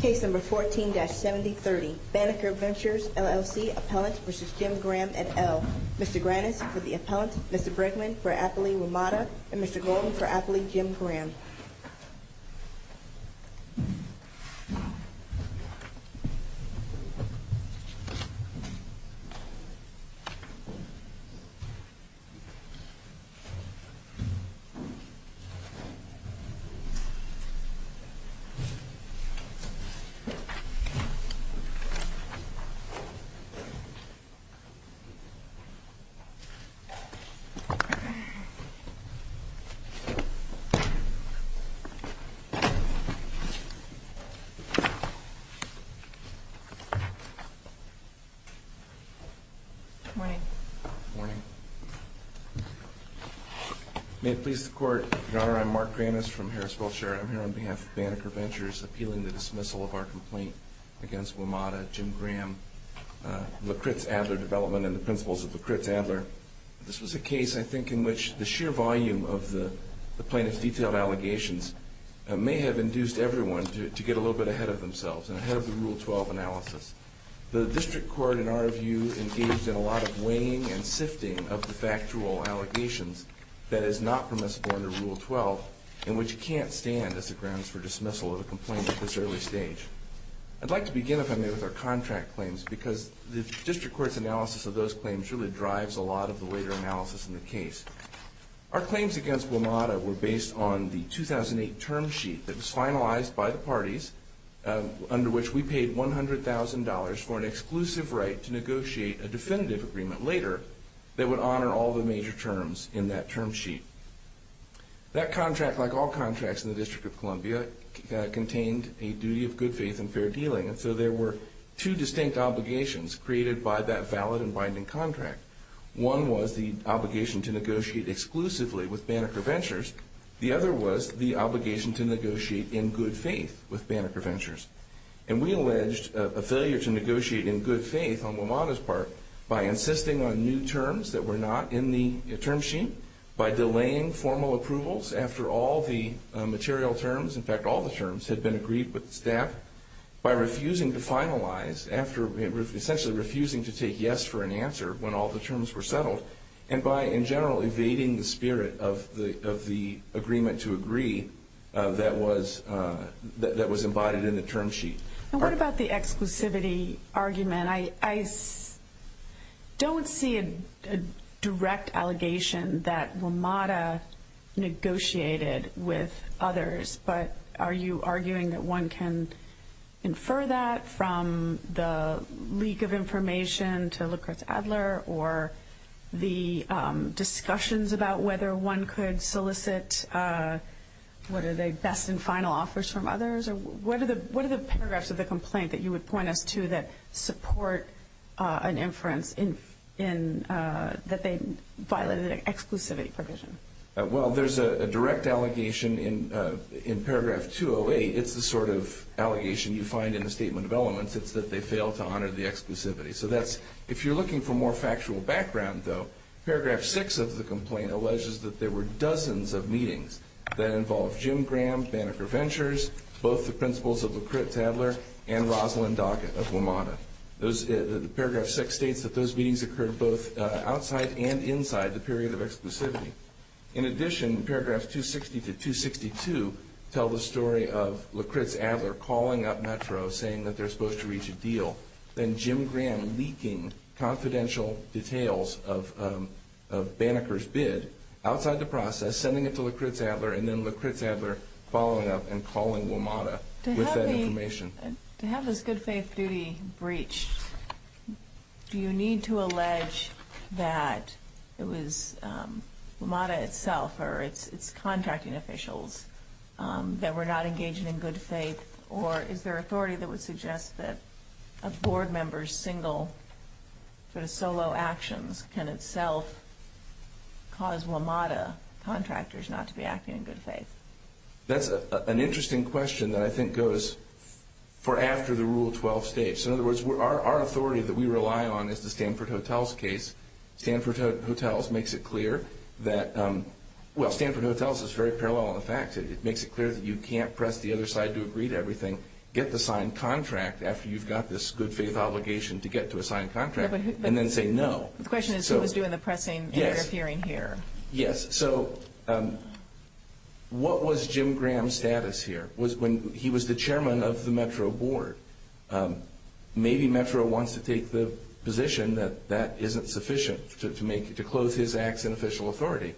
Case No. 14-7030, Banneker Ventures, LLC, Appellant v. Jim Graham, et al. Mr. Grannis for the Appellant, Mr. Brickman for Appellee Ramada, and Mr. Golden for Appellee Jim Graham. Good morning. Good morning. May it please the Court, Your Honor, I'm Mark Grannis from Harris-Wiltshire. I'm here on behalf of Banneker Ventures appealing the dismissal of our complaint against Ramada, Jim Graham, LaCritz-Adler development and the principles of LaCritz-Adler. This was a case, I think, in which the sheer volume of the plaintiff's detailed allegations may have induced everyone to get a little bit ahead of themselves and ahead of the Rule 12 analysis. The District Court, in our view, engaged in a lot of weighing and sifting of the factual allegations that is not permissible under Rule 12 and which can't stand as the grounds for dismissal of a complaint at this early stage. I'd like to begin, if I may, with our contract claims because the District Court's analysis of those claims really drives a lot of the later analysis in the case. Our claims against Ramada were based on the 2008 term sheet that was finalized by the parties under which we paid $100,000 for an exclusive right to negotiate a definitive agreement later that would honor all the major terms in that term sheet. That contract, like all contracts in the District of Columbia, contained a duty of good faith and fair dealing, and so there were two distinct obligations created by that valid and binding contract. One was the obligation to negotiate exclusively with Banneker Ventures. The other was the obligation to negotiate in good faith with Banneker Ventures. And we alleged a failure to negotiate in good faith on Ramada's part by insisting on new terms that were not in the term sheet, by delaying formal approvals after all the material terms, in fact, all the terms had been agreed with the staff, by refusing to finalize after essentially refusing to take yes for an answer when all the terms were settled, and by, in general, evading the spirit of the agreement to agree that was embodied in the term sheet. And what about the exclusivity argument? I don't see a direct allegation that Ramada negotiated with others, but are you arguing that one can infer that from the leak of information to Lucretz Adler or the discussions about whether one could solicit, what are they, best and final offers from others? What are the paragraphs of the complaint that you would point us to that support an inference that they violated an exclusivity provision? Well, there's a direct allegation in paragraph 208. It's the sort of allegation you find in the Statement of Elements. It's that they failed to honor the exclusivity. So that's, if you're looking for more factual background, though, paragraph 6 of the complaint alleges that there were dozens of meetings that involved Jim Graham, Banneker Ventures, both the principals of Lucretz Adler and Rosalyn Docket of Ramada. Paragraph 6 states that those meetings occurred both outside and inside the period of exclusivity. In addition, paragraphs 260 to 262 tell the story of Lucretz Adler calling up Metro, saying that they're supposed to reach a deal, then Jim Graham leaking confidential details of Banneker's bid outside the process, sending it to Lucretz Adler, and then Lucretz Adler following up and calling Ramada with that information. To have this good-faith duty breached, do you need to allege that it was Ramada itself or its contracting officials that were not engaging in good faith, or is there authority that would suggest that a board member's single, sort of solo actions can itself cause Ramada contractors not to be acting in good faith? That's an interesting question that I think goes for after the Rule 12 states. In other words, our authority that we rely on is the Stanford Hotels case. Stanford Hotels makes it clear that, well, Stanford Hotels is very parallel in the facts. It makes it clear that you can't press the other side to agree to everything, get the signed contract after you've got this good-faith obligation to get to a signed contract, and then say no. The question is who was doing the pressing interfering here. Yes, so what was Jim Graham's status here? He was the chairman of the Metro Board. Maybe Metro wants to take the position that that isn't sufficient to close his acts in official authority.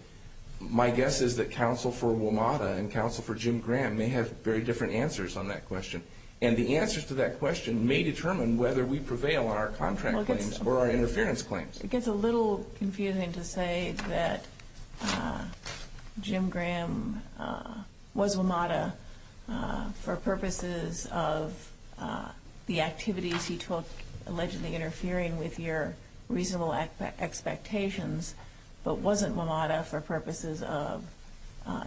My guess is that counsel for WMATA and counsel for Jim Graham may have very different answers on that question, and the answers to that question may determine whether we prevail on our contract claims or our interference claims. It gets a little confusing to say that Jim Graham was WMATA for purposes of the activities he took, allegedly interfering with your reasonable expectations, but wasn't WMATA for purposes of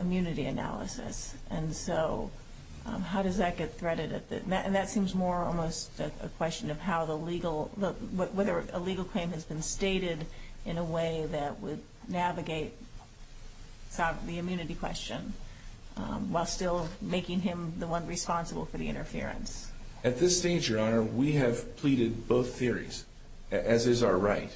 immunity analysis. And so how does that get threaded? And that seems more almost a question of whether a legal claim has been stated in a way that would navigate the immunity question while still making him the one responsible for the interference. At this stage, Your Honor, we have pleaded both theories, as is our right.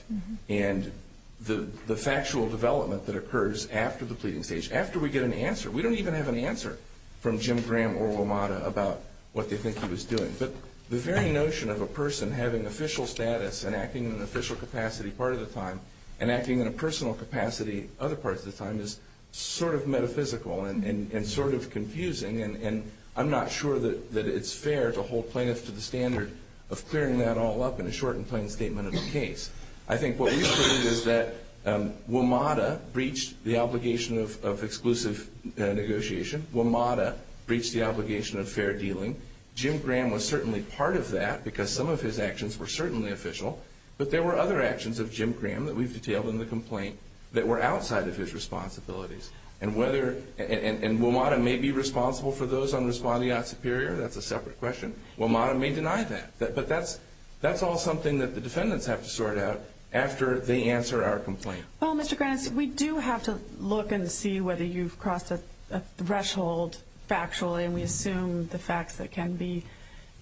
And the factual development that occurs after the pleading stage, after we get an answer, we don't even have an answer from Jim Graham or WMATA about what they think he was doing. But the very notion of a person having official status and acting in an official capacity part of the time and acting in a personal capacity other parts of the time is sort of metaphysical and sort of confusing, and I'm not sure that it's fair to hold plaintiffs to the standard of clearing that all up in a short and plain statement of the case. I think what we've heard is that WMATA breached the obligation of exclusive negotiation. WMATA breached the obligation of fair dealing. Jim Graham was certainly part of that because some of his actions were certainly official, but there were other actions of Jim Graham that we've detailed in the complaint that were outside of his responsibilities. And whether – and WMATA may be responsible for those unresponding at Superior, that's a separate question. WMATA may deny that, but that's all something that the defendants have to sort out after they answer our complaint. Well, Mr. Grannis, we do have to look and see whether you've crossed a threshold factually, and we assume the facts that can be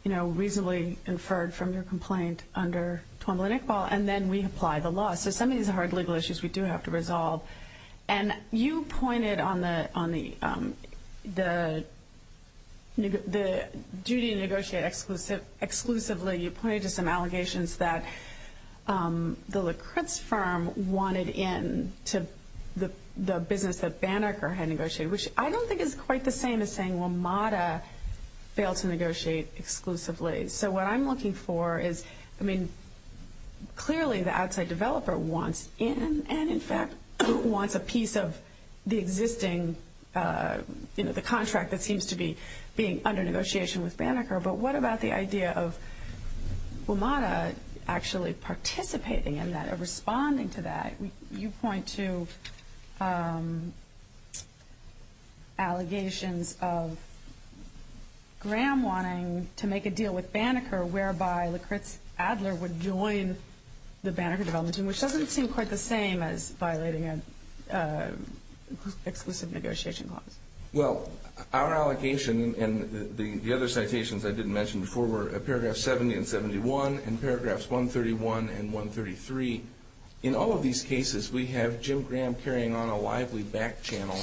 reasonably inferred from your complaint under Twombly-Nickball, and then we apply the law. So some of these are hard legal issues we do have to resolve. And you pointed on the duty to negotiate exclusively. You pointed to some allegations that the Lakritz firm wanted in to the business that Banneker had negotiated, which I don't think is quite the same as saying WMATA failed to negotiate exclusively. So what I'm looking for is, I mean, clearly the outside developer wants in and, in fact, wants a piece of the existing, you know, the contract that seems to be being under negotiation with Banneker. But what about the idea of WMATA actually participating in that or responding to that? You point to allegations of Graham wanting to make a deal with Banneker, whereby Lakritz Adler would join the Banneker development team, which doesn't seem quite the same as violating an exclusive negotiation clause. Well, our allegation and the other citations I didn't mention before were paragraphs 70 and 71 and paragraphs 131 and 133. In all of these cases, we have Jim Graham carrying on a lively back-channel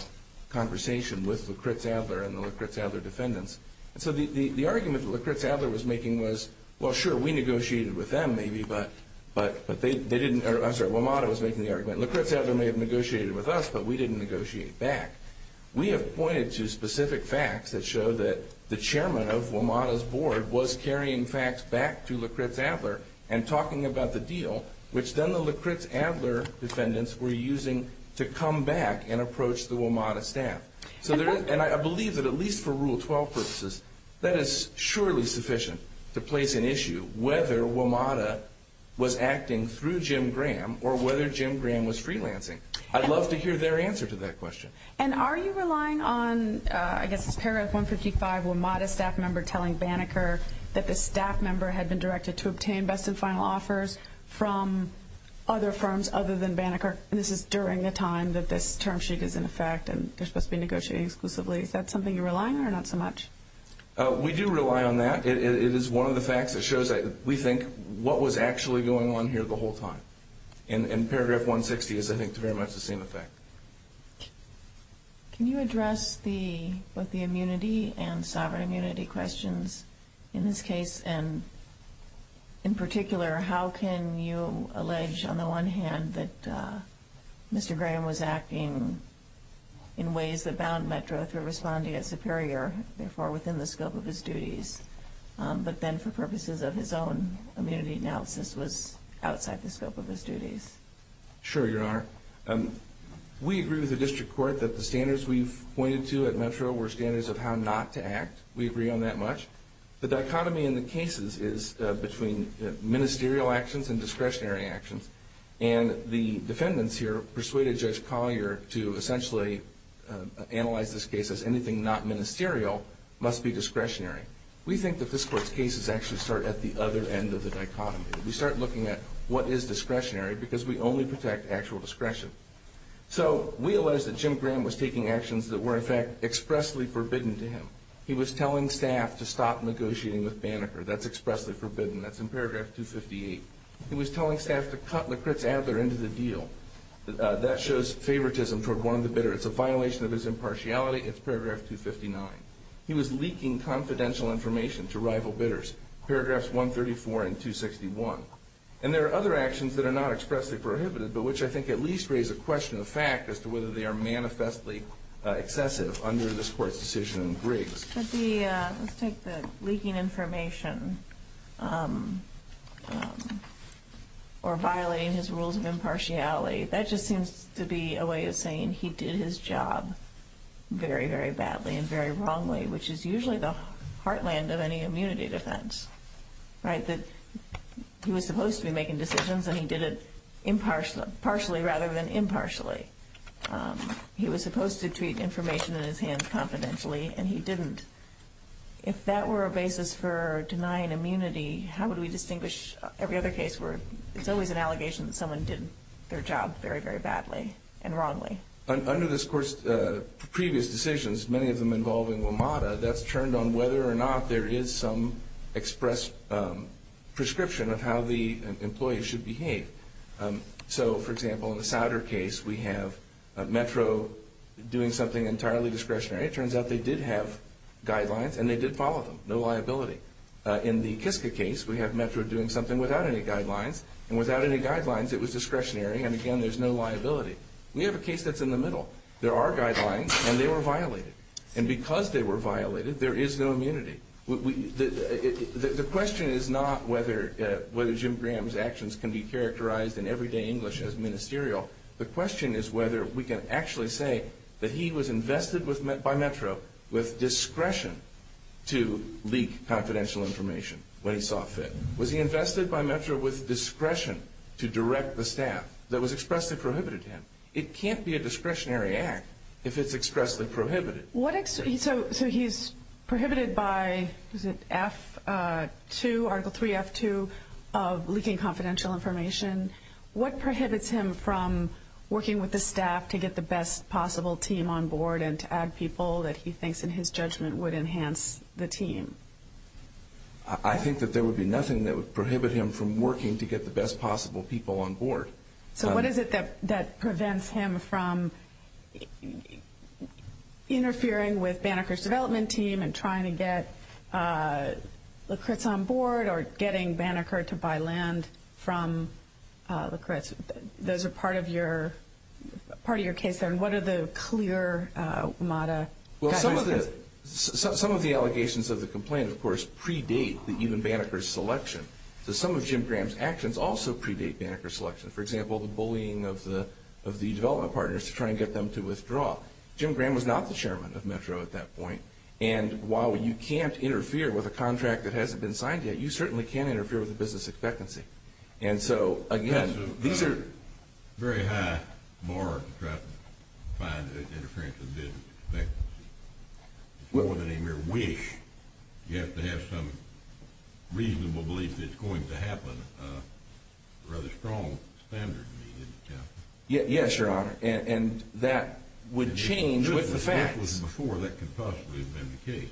conversation with Lakritz Adler and the Lakritz Adler defendants. And so the argument that Lakritz Adler was making was, well, sure, we negotiated with them maybe, but they didn't. I'm sorry, WMATA was making the argument. Lakritz Adler may have negotiated with us, but we didn't negotiate back. We have pointed to specific facts that show that the chairman of WMATA's board was carrying facts back to Lakritz Adler and talking about the deal, which then the Lakritz Adler defendants were using to come back and approach the WMATA staff. And I believe that at least for Rule 12 purposes, that is surely sufficient to place an issue, whether WMATA was acting through Jim Graham or whether Jim Graham was freelancing. I'd love to hear their answer to that question. And are you relying on, I guess, paragraph 155, WMATA staff member telling Banneker that the staff member had been directed to obtain best and final offers from other firms other than Banneker, and this is during the time that this term sheet is in effect and they're supposed to be negotiating exclusively. Is that something you're relying on or not so much? We do rely on that. It is one of the facts that shows that we think what was actually going on here the whole time. And paragraph 160 is, I think, very much the same effect. Can you address both the immunity and sovereign immunity questions in this case? And in particular, how can you allege, on the one hand, that Mr. Graham was acting in ways that bound Metro through responding at Superior, therefore within the scope of his duties, but then for purposes of his own immunity analysis was outside the scope of his duties? Sure, Your Honor. We agree with the district court that the standards we've pointed to at Metro were standards of how not to act. We agree on that much. The dichotomy in the cases is between ministerial actions and discretionary actions. And the defendants here persuaded Judge Collier to essentially analyze this case as anything not ministerial must be discretionary. We think that this Court's cases actually start at the other end of the dichotomy. We start looking at what is discretionary because we only protect actual discretion. So we allege that Jim Graham was taking actions that were, in fact, expressly forbidden to him. He was telling staff to stop negotiating with Banneker. That's expressly forbidden. That's in paragraph 258. He was telling staff to cut Lekritz Adler into the deal. That shows favoritism toward one of the bidders. It's a violation of his impartiality. It's paragraph 259. He was leaking confidential information to rival bidders, paragraphs 134 and 261. And there are other actions that are not expressly prohibited, but which I think at least raise a question of fact as to whether they are manifestly excessive under this Court's decision in Briggs. Let's take the leaking information or violating his rules of impartiality. That just seems to be a way of saying he did his job very, very badly and very wrongly, which is usually the heartland of any immunity defense, right, that he was supposed to be making decisions and he did it partially rather than impartially. He was supposed to treat information in his hands confidentially, and he didn't. If that were a basis for denying immunity, how would we distinguish every other case where it's always an allegation that someone did their job very, very badly and wrongly? Under this Court's previous decisions, many of them involving WMATA, that's turned on whether or not there is some express prescription of how the employee should behave. So, for example, in the Souder case, we have Metro doing something entirely discretionary. It turns out they did have guidelines and they did follow them. No liability. In the Kiska case, we have Metro doing something without any guidelines, and without any guidelines, it was discretionary, and again, there's no liability. We have a case that's in the middle. There are guidelines, and they were violated. And because they were violated, there is no immunity. The question is not whether Jim Graham's actions can be characterized in everyday English as ministerial. The question is whether we can actually say that he was invested by Metro with discretion to leak confidential information when he saw fit. Was he invested by Metro with discretion to direct the staff that was expressly prohibited to him? It can't be a discretionary act if it's expressly prohibited. So he's prohibited by F2, Article 3, F2, of leaking confidential information. What prohibits him from working with the staff to get the best possible team on board and to add people that he thinks in his judgment would enhance the team? I think that there would be nothing that would prohibit him from working to get the best possible people on board. So what is it that prevents him from interfering with Banneker's development team and trying to get lacrets on board or getting Banneker to buy land from lacrets? Those are part of your case there, and what are the clear MATA guidelines? Well, some of the allegations of the complaint, of course, predate even Banneker's selection. So some of Jim Graham's actions also predate Banneker's selection. For example, the bullying of the development partners to try and get them to withdraw. Jim Graham was not the chairman of Metro at that point, and while you can't interfere with a contract that hasn't been signed yet, you certainly can interfere with the business expectancy. And so, again, these are… That's a very high bar to try to find interference with business expectancy. It's more than a mere wish. You have to have some reasonable belief that it's going to happen. It's a rather strong standard. Yes, Your Honor, and that would change with the facts. Before that could possibly have been the case.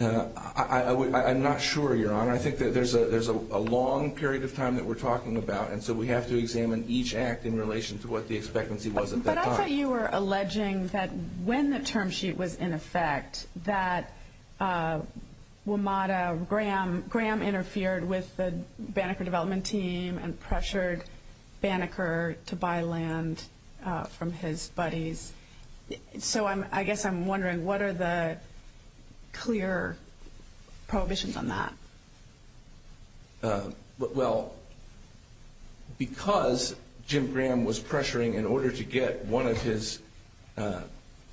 I'm not sure, Your Honor. I think that there's a long period of time that we're talking about, and so we have to examine each act in relation to what the expectancy was at that time. I thought you were alleging that when the term sheet was in effect, that WMATA, Graham interfered with the Banneker development team and pressured Banneker to buy land from his buddies. So I guess I'm wondering, what are the clear prohibitions on that? Well, because Jim Graham was pressuring in order to get one of his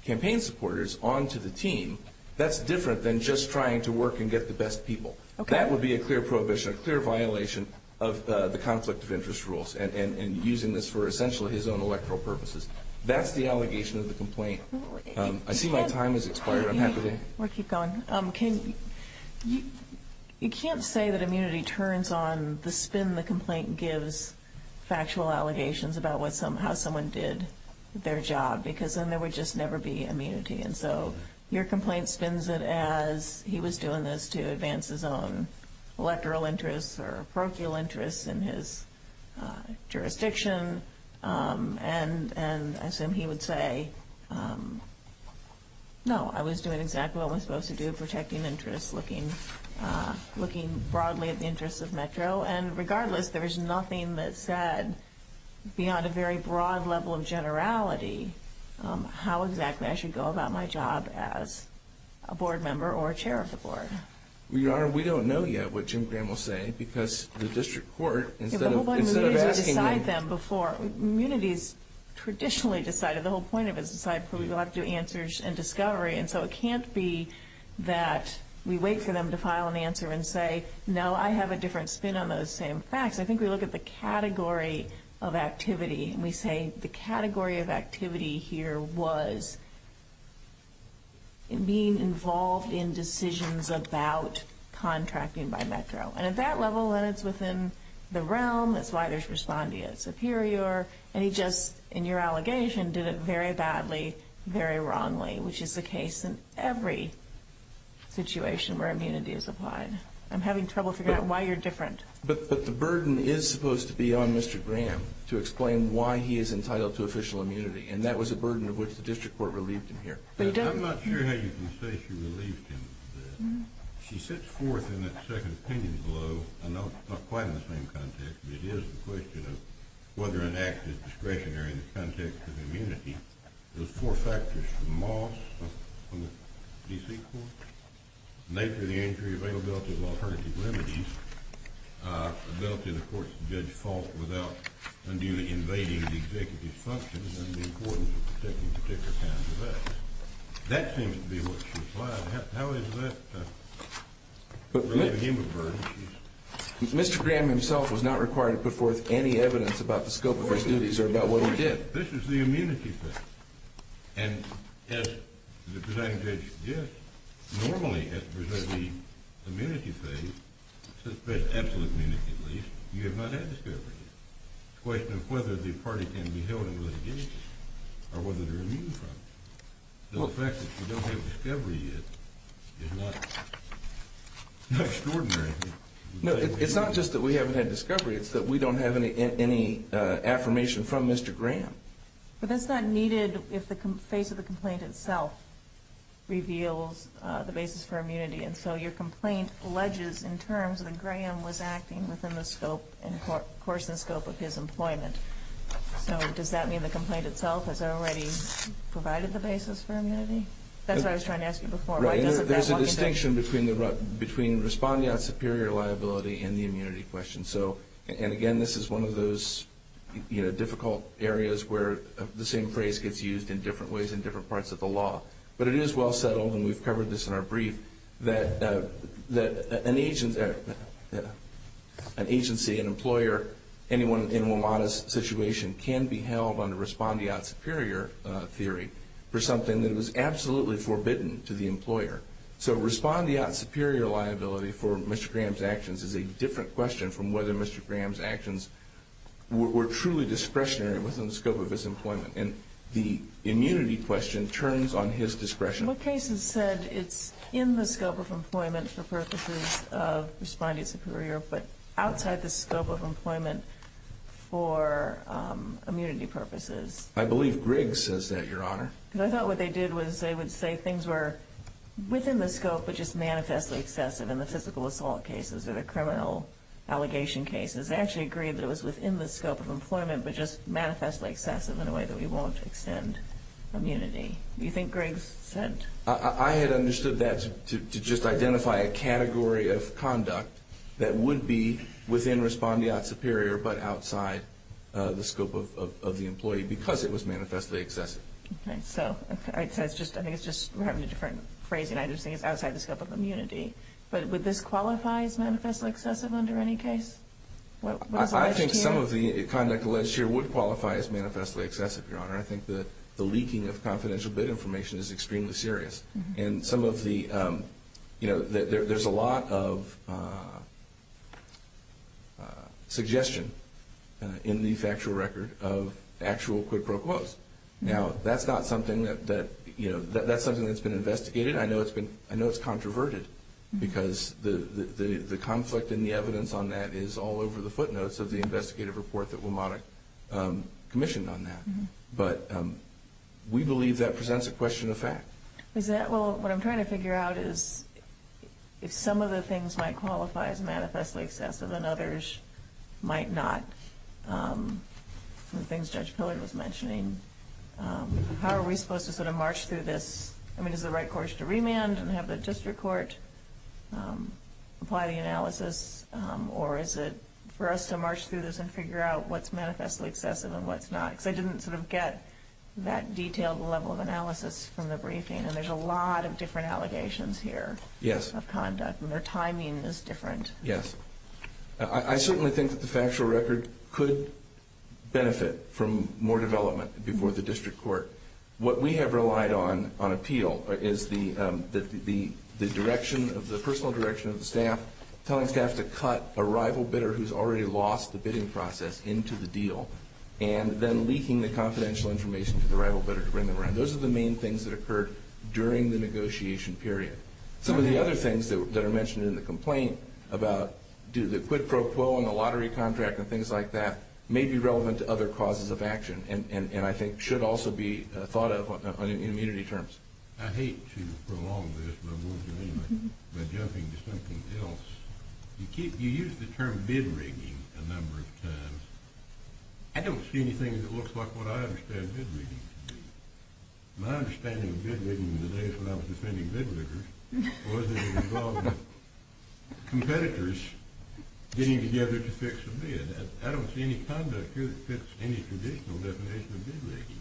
campaign supporters onto the team, that's different than just trying to work and get the best people. That would be a clear prohibition, a clear violation of the conflict of interest rules and using this for essentially his own electoral purposes. That's the allegation of the complaint. I see my time has expired. We'll keep going. You can't say that immunity turns on the spin the complaint gives factual allegations about how someone did their job, because then there would just never be immunity. And so your complaint spins it as he was doing this to advance his own electoral interests or parochial interests in his jurisdiction, and I assume he would say, no, I was doing exactly what I was supposed to do, protecting interests, looking broadly at the interests of Metro. And regardless, there is nothing that said beyond a very broad level of generality how exactly I should go about my job as a board member or a chair of the board. Your Honor, we don't know yet what Jim Graham will say because the district court, the whole point of immunity is to decide them before. Immunity is traditionally decided. The whole point of it is to decide before we go out to do answers and discovery, and so it can't be that we wait for them to file an answer and say, no, I have a different spin on those same facts. I think we look at the category of activity, and we say the category of activity here was being involved in decisions about contracting by Metro. And at that level, when it's within the realm, that's why they're responding as superior, and he just, in your allegation, did it very badly, very wrongly, which is the case in every situation where immunity is applied. I'm having trouble figuring out why you're different. But the burden is supposed to be on Mr. Graham to explain why he is entitled to official immunity, and that was a burden of which the district court relieved him here. I'm not sure how you can say she relieved him of that. She sits forth in that second opinion below. I know it's not quite in the same context, but it is the question of whether an act is discretionary in the context of immunity. There's four factors from Moss on the D.C. court, the nature of the injury, availability of alternative remedies, ability of the court to judge fault without unduly invading the executive's functions, and the importance of protecting particular kinds of acts. That seems to be what she applied. How is that relieving him of a burden? Mr. Graham himself was not required to put forth any evidence about the scope of his duties or about what he did. This is the immunity phase. And as the presiding judge suggests, normally at the immunity phase, the absolute immunity at least, you have not had discovery yet. It's a question of whether the party can be held in litigation or whether they're immune from it. The fact that we don't have discovery yet is not extraordinary. No, it's not just that we haven't had discovery. It's that we don't have any affirmation from Mr. Graham. But that's not needed if the face of the complaint itself reveals the basis for immunity, and so your complaint alleges in terms that Graham was acting within the course and scope of his employment. So does that mean the complaint itself has already provided the basis for immunity? That's what I was trying to ask you before. There's a distinction between responding on superior liability and the immunity question. And, again, this is one of those difficult areas where the same phrase gets used in different ways in different parts of the law. But it is well settled, and we've covered this in our brief, that an agency, an employer, anyone in a modest situation can be held under respondeat superior theory for something that was absolutely forbidden to the employer. So respondeat superior liability for Mr. Graham's actions is a different question from whether Mr. Graham's actions were truly discretionary within the scope of his employment. And the immunity question turns on his discretion. What cases said it's in the scope of employment for purposes of respondeat superior, but outside the scope of employment for immunity purposes? I believe Griggs says that, Your Honor. Because I thought what they did was they would say things were within the scope, but just manifestly excessive in the physical assault cases or the criminal allegation cases. They actually agreed that it was within the scope of employment, but just manifestly excessive in a way that we won't extend immunity. Do you think Griggs said? I had understood that to just identify a category of conduct that would be within respondeat superior, but outside the scope of the employee because it was manifestly excessive. Okay. So I think it's just we're having a different phrase, and I just think it's outside the scope of immunity. But would this qualify as manifestly excessive under any case? I think some of the conduct alleged here would qualify as manifestly excessive, Your Honor. I think the leaking of confidential bid information is extremely serious. And some of the, you know, there's a lot of suggestion in the factual record of actual quid pro quos. Now, that's not something that, you know, that's something that's been investigated. I know it's been, I know it's controverted because the conflict and the evidence on that is all over the footnotes of the investigative report that WMATIC commissioned on that. But we believe that presents a question of fact. Well, what I'm trying to figure out is if some of the things might qualify as manifestly excessive and others might not, the things Judge Pillard was mentioning. How are we supposed to sort of march through this? I mean, is the right course to remand and have the district court apply the analysis? Or is it for us to march through this and figure out what's manifestly excessive and what's not? Because I didn't sort of get that detailed level of analysis from the briefing, and there's a lot of different allegations here of conduct, and their timing is different. Yes. I certainly think that the factual record could benefit from more development before the district court. What we have relied on on appeal is the personal direction of the staff, telling staff to cut a rival bidder who's already lost the bidding process into the deal and then leaking the confidential information to the rival bidder to bring them around. Those are the main things that occurred during the negotiation period. Some of the other things that are mentioned in the complaint about the quid pro quo and the lottery contract and things like that may be relevant to other causes of action and I think should also be thought of in immunity terms. I hate to prolong this, but I'm going to do it anyway by jumping to something else. You use the term bid rigging a number of times. I don't see anything that looks like what I understand bid rigging to be. My understanding of bid rigging in the days when I was defending bid riggers was that it involved competitors getting together to fix a bid. I don't see any conduct here that fits any traditional definition of bid rigging.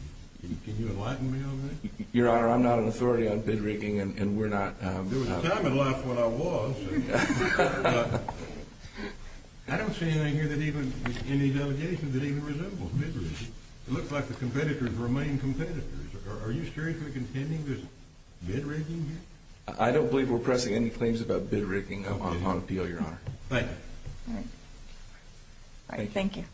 Can you enlighten me on that? Your Honor, I'm not an authority on bid rigging and we're not. There was a time in life when I was. I don't see anything here in these allegations that even resembles bid rigging. It looks like the competitors remain competitors. Are you seriously contending there's bid rigging here? I don't believe we're pressing any claims about bid rigging on the deal, Your Honor. Thank you. Thank you.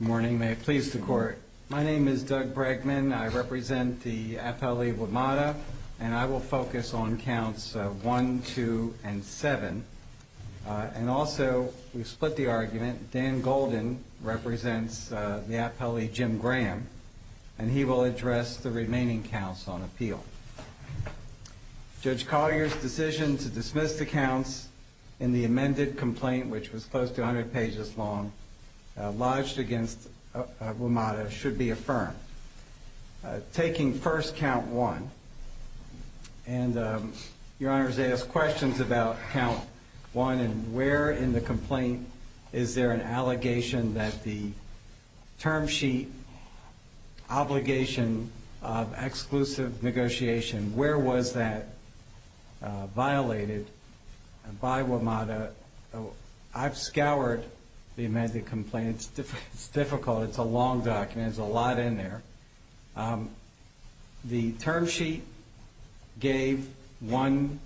Good morning. May it please the Court. My name is Doug Bregman. I represent the appellee, Wimata, and I will focus on counts 1, 2, and 7. And also, we've split the argument. Dan Golden represents the appellee, Jim Graham, and he will address the remaining counts on appeal. Judge Collier's decision to dismiss the counts in the amended complaint, which was close to 100 pages long, lodged against Wimata, should be affirmed. Taking first count 1, and Your Honor has asked questions about count 1 and where in the complaint is there an allegation that the term sheet obligation of exclusive negotiation, where was that violated by Wimata? I've scoured the amended complaint. It's difficult. It's a long document. There's a lot in there. The term sheet gave one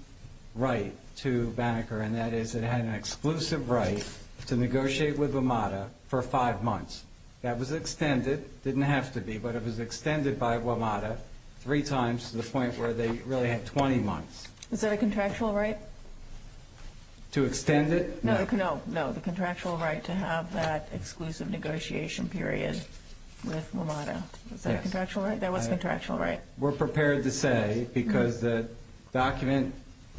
right to Banneker, and that is it had an exclusive right to negotiate with Wimata for five months. That was extended. It didn't have to be, but it was extended by Wimata three times to the point where they really had 20 months. Is that a contractual right? To extend it? No, the contractual right to have that exclusive negotiation period with Wimata. Is that a contractual right? That was a contractual right. We're prepared to say, because the document,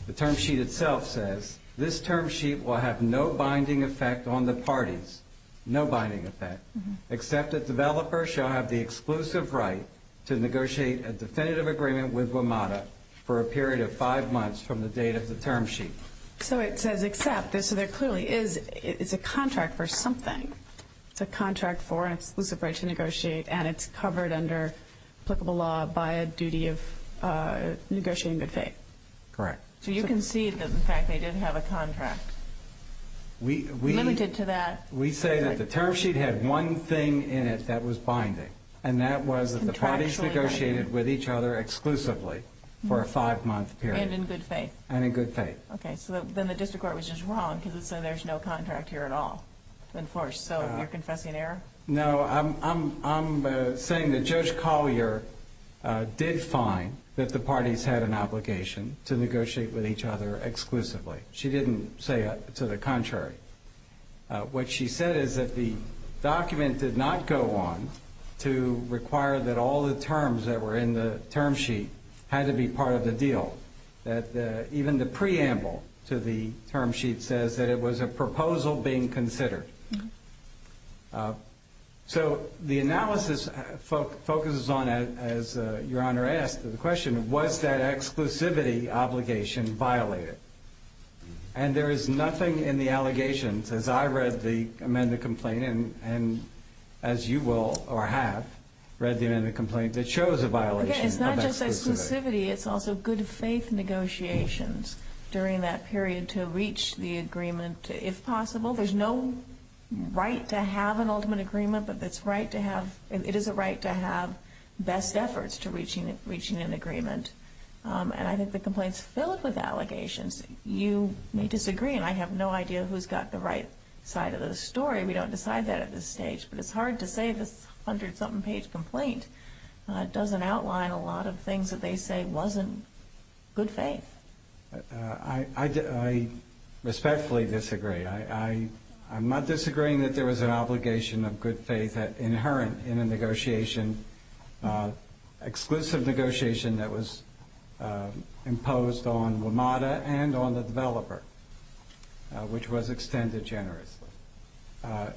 the term sheet itself says, this term sheet will have no binding effect on the parties, no binding effect, except that developers shall have the exclusive right to negotiate a definitive agreement with Wimata for a period of five months from the date of the term sheet. So it says except, so there clearly is a contract for something. It's a contract for an exclusive right to negotiate, and it's covered under applicable law by a duty of negotiating good faith. Correct. So you concede that, in fact, they did have a contract limited to that? We say that the term sheet had one thing in it that was binding, and that was that the parties negotiated with each other exclusively for a five-month period. And in good faith. And in good faith. Okay, so then the district court was just wrong because it said there's no contract here at all to enforce. So you're confessing error? No, I'm saying that Judge Collier did find that the parties had an obligation to negotiate with each other exclusively. She didn't say to the contrary. What she said is that the document did not go on to require that all the terms that were in the term sheet had to be part of the deal. Even the preamble to the term sheet says that it was a proposal being considered. So the analysis focuses on, as Your Honor asked the question, was that exclusivity obligation violated? And there is nothing in the allegations, as I read the amended complaint, and as you will or have read the amended complaint, that shows a violation. Again, it's not just exclusivity, it's also good faith negotiations during that period to reach the agreement, if possible. There's no right to have an ultimate agreement, but it is a right to have best efforts to reaching an agreement. And I think the complaint's filled with allegations. You may disagree, and I have no idea who's got the right side of the story. We don't decide that at this stage. But it's hard to say if this 100-something page complaint doesn't outline a lot of things that they say wasn't good faith. I respectfully disagree. I'm not disagreeing that there was an obligation of good faith inherent in a negotiation, exclusive negotiation that was imposed on WMATA and on the developer, which was extended generously. Well,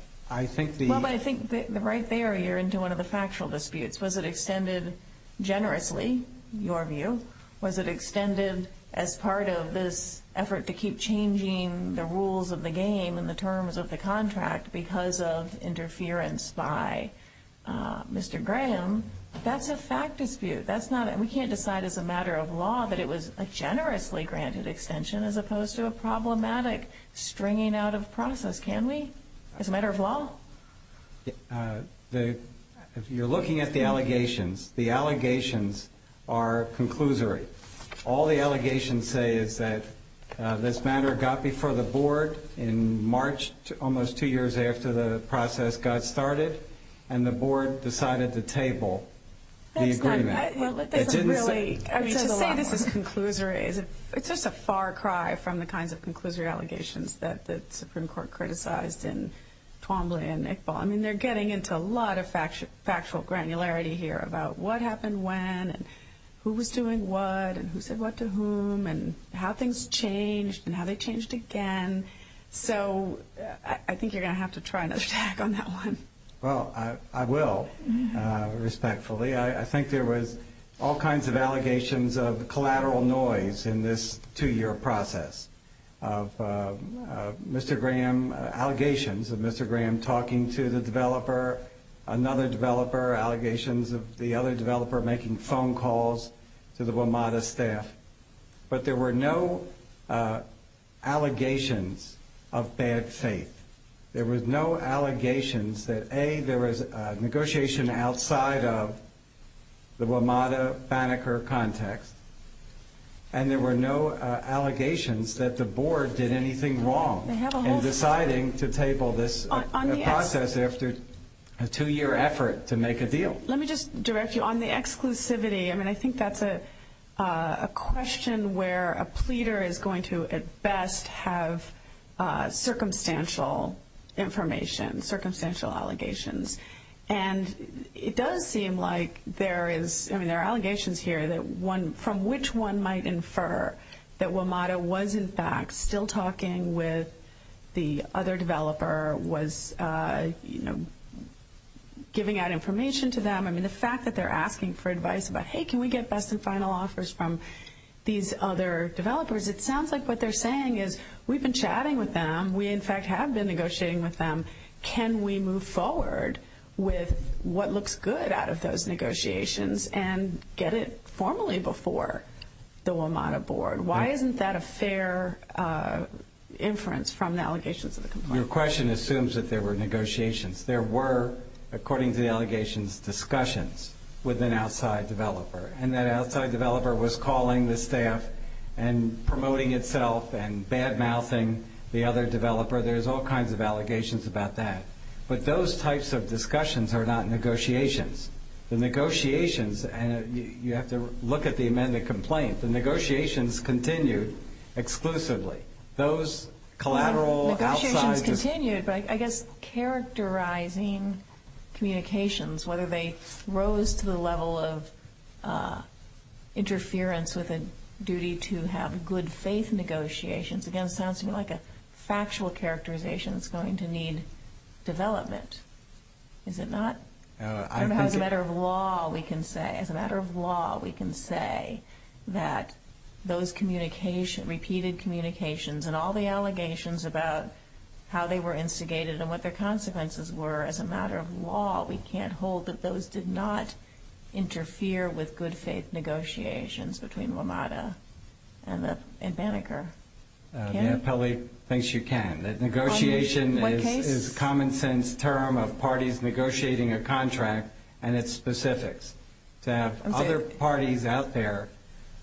but I think right there you're into one of the factual disputes. Was it extended generously, your view? Was it extended as part of this effort to keep changing the rules of the game and the terms of the contract because of interference by Mr. Graham? That's a fact dispute. We can't decide as a matter of law that it was a generously granted extension as opposed to a problematic stringing out of process, can we, as a matter of law? If you're looking at the allegations, the allegations are conclusory. All the allegations say is that this matter got before the board in March, almost two years after the process got started, and the board decided to table the agreement. Well, it doesn't really. I mean, to say this is conclusory, it's just a far cry from the kinds of conclusory allegations that the Supreme Court criticized in Twombly and Iqbal. I mean, they're getting into a lot of factual granularity here about what happened when and who was doing what and who said what to whom and how things changed and how they changed again. So I think you're going to have to try another tag on that one. Well, I will, respectfully. I think there was all kinds of allegations of collateral noise in this two-year process of Mr. Graham, allegations of Mr. Graham talking to the developer, another developer, allegations of the other developer making phone calls to the WMATA staff. But there were no allegations of bad faith. There were no allegations that, A, there was negotiation outside of the WMATA-Banneker context, and there were no allegations that the board did anything wrong in deciding to table this process after a two-year effort to make a deal. Let me just direct you on the exclusivity. I mean, I think that's a question where a pleader is going to at best have circumstantial information, circumstantial allegations. And it does seem like there is, I mean, there are allegations here from which one might infer that WMATA was, in fact, still talking with the other developer, was giving out information to them. I mean, the fact that they're asking for advice about, hey, can we get best and final offers from these other developers, it sounds like what they're saying is we've been chatting with them, we, in fact, have been negotiating with them. Can we move forward with what looks good out of those negotiations and get it formally before the WMATA board? Why isn't that a fair inference from the allegations of the complaint? Your question assumes that there were negotiations. There were, according to the allegations, discussions with an outside developer, and that outside developer was calling the staff and promoting itself and bad-mouthing the other developer. There's all kinds of allegations about that. But those types of discussions are not negotiations. The negotiations, and you have to look at the amended complaint, the negotiations continued exclusively. Those collateral outsides of the- Negotiations continued, but I guess characterizing communications, whether they rose to the level of interference with a duty to have good-faith negotiations, again, sounds to me like a factual characterization that's going to need development. Is it not? As a matter of law, we can say that those repeated communications and all the allegations about how they were instigated and what their consequences were, as a matter of law, we can't hold that those did not interfere with good-faith negotiations between WMATA and Banneker. Kelly thinks you can. Negotiation is a common-sense term of parties negotiating a contract and its specifics. To have other parties out there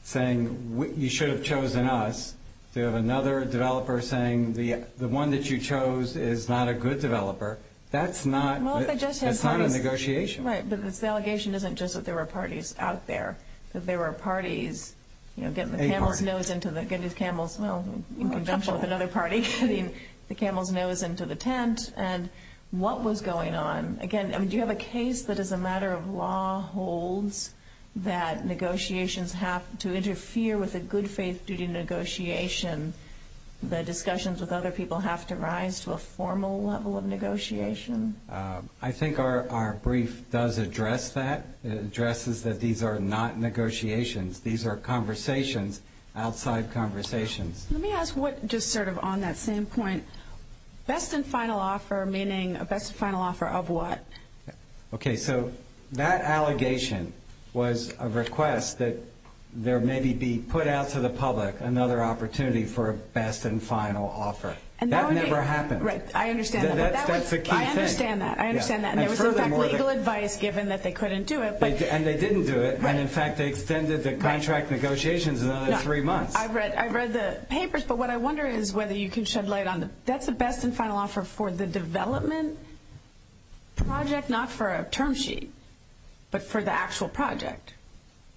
saying you should have chosen us, to have another developer saying the one that you chose is not a good developer, that's not a negotiation. Right, but the allegation isn't just that there were parties out there. There were parties getting the camel's nose into the- A party. Getting the camel's, well, in conjunction with another party, getting the camel's nose into the tent. And what was going on? Again, do you have a case that, as a matter of law, holds that negotiations have to interfere with a good-faith duty negotiation? The discussions with other people have to rise to a formal level of negotiation? I think our brief does address that. It addresses that these are not negotiations. These are conversations, outside conversations. Let me ask what just sort of on that same point. Best and final offer, meaning a best and final offer of what? Okay, so that allegation was a request that there maybe be put out to the public another opportunity for a best and final offer. That never happened. Right, I understand. That's a key thing. I understand that. I understand that. And there was, in fact, legal advice given that they couldn't do it. And they didn't do it. And, in fact, they extended the contract negotiations another three months. I've read the papers, but what I wonder is whether you can shed light on that. That's a best and final offer for the development project, not for a term sheet, but for the actual project,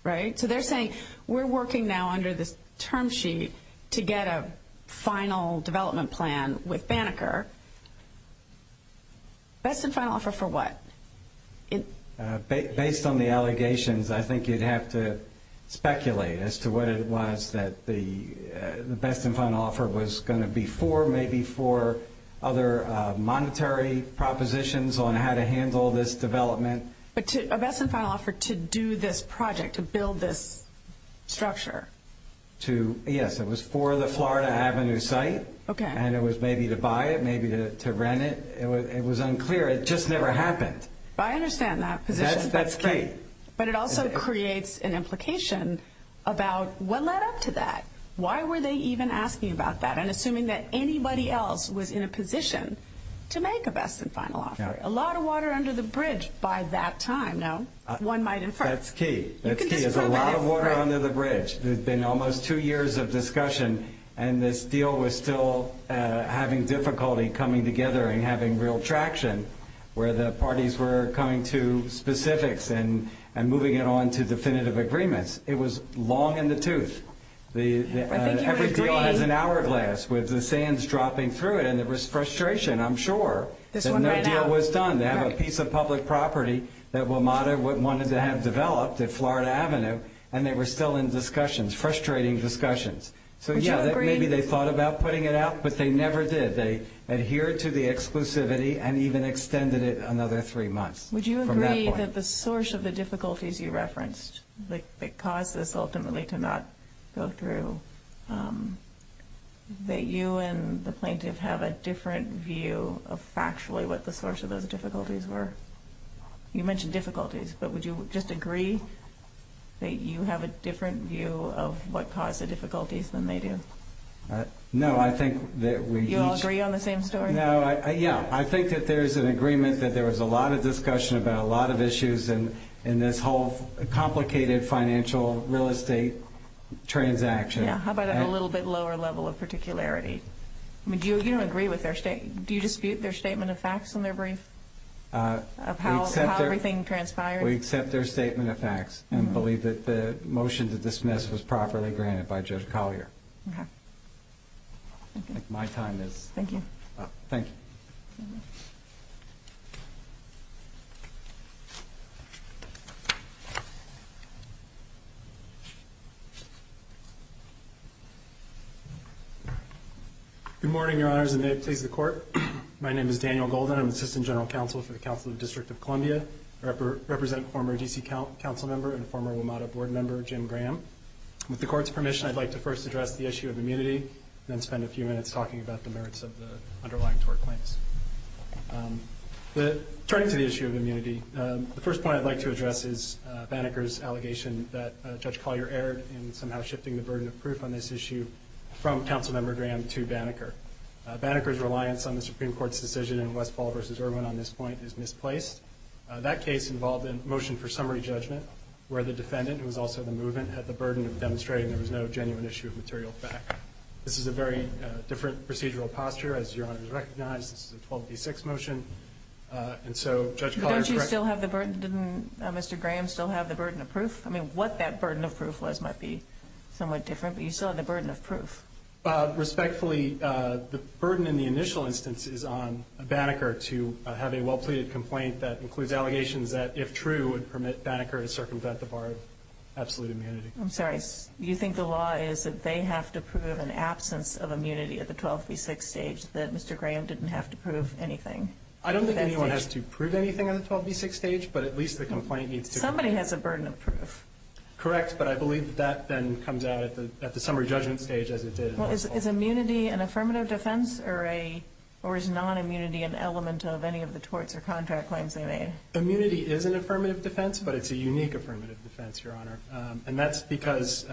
right? So they're saying we're working now under this term sheet to get a final development plan with Banneker. Best and final offer for what? Based on the allegations, I think you'd have to speculate as to what it was that the best and final offer was going to be for, maybe for other monetary propositions on how to handle this development. But a best and final offer to do this project, to build this structure. Yes, it was for the Florida Avenue site. Okay. And it was maybe to buy it, maybe to rent it. It was unclear. It just never happened. I understand that position. That's key. But it also creates an implication about what led up to that. Why were they even asking about that and assuming that anybody else was in a position to make a best and final offer? A lot of water under the bridge by that time, no? One might infer. That's key. That's key. There's a lot of water under the bridge. There's been almost two years of discussion, and this deal was still having difficulty coming together and having real traction where the parties were coming to specifics and moving it on to definitive agreements. It was long in the tooth. I think you would agree. Every deal has an hourglass with the sands dropping through it, and there was frustration, I'm sure. This one ran out. And no deal was done. They have a piece of public property that WMATA wanted to have developed at Florida Avenue, and they were still in discussions, frustrating discussions. So, yeah, maybe they thought about putting it out, but they never did. They adhered to the exclusivity and even extended it another three months from that point. Would you agree that the source of the difficulties you referenced that caused this ultimately to not go through, that you and the plaintiff have a different view of factually what the source of those difficulties were? You mentioned difficulties, but would you just agree that you have a different view of what caused the difficulties than they do? No, I think that we each... You all agree on the same story? No, yeah. I think that there's an agreement that there was a lot of discussion about a lot of issues in this whole complicated financial real estate transaction. Yeah. How about a little bit lower level of particularity? You don't agree with their statement? Do you dispute their statement of facts in their brief of how everything transpired? We accept their statement of facts and believe that the motion to dismiss was properly granted by Judge Collier. Okay. My time is up. Thank you. Good morning, Your Honors, and may it please the Court. My name is Daniel Golden. I'm Assistant General Counsel for the Council of the District of Columbia. I represent former D.C. Councilmember and former WMATA Board Member Jim Graham. With the Court's permission, I'd like to first address the issue of immunity and then spend a few minutes talking about the merits of the underlying tort claims. Turning to the issue of immunity, the first point I'd like to address is Banneker's allegation that Judge Collier erred in somehow shifting the burden of proof on this issue from Councilmember Graham to Banneker. Banneker's reliance on the Supreme Court's decision in Westfall v. Irwin on this point is misplaced. That case involved a motion for summary judgment where the defendant, who was also the movement, had the burden of demonstrating there was no genuine issue of material fact. This is a very different procedural posture, as Your Honors recognize. This is a 12D6 motion. And so Judge Collier corrects me. But don't you still have the burden? Didn't Mr. Graham still have the burden of proof? I mean, what that burden of proof was might be somewhat different, but you still had the burden of proof. Respectfully, the burden in the initial instance is on Banneker to have a well-pleaded complaint that includes allegations that, if true, would permit Banneker to circumvent the bar of absolute immunity. I'm sorry. You think the law is that they have to prove an absence of immunity at the 12B6 stage, that Mr. Graham didn't have to prove anything? I don't think anyone has to prove anything at the 12B6 stage, but at least the complaint needs to be ---- Somebody has a burden of proof. Correct. But I believe that that then comes out at the summary judgment stage, as it did. Is immunity an affirmative defense or is non-immunity an element of any of the torts or contract claims they made? Immunity is an affirmative defense, but it's a unique affirmative defense, Your Honor. And that's because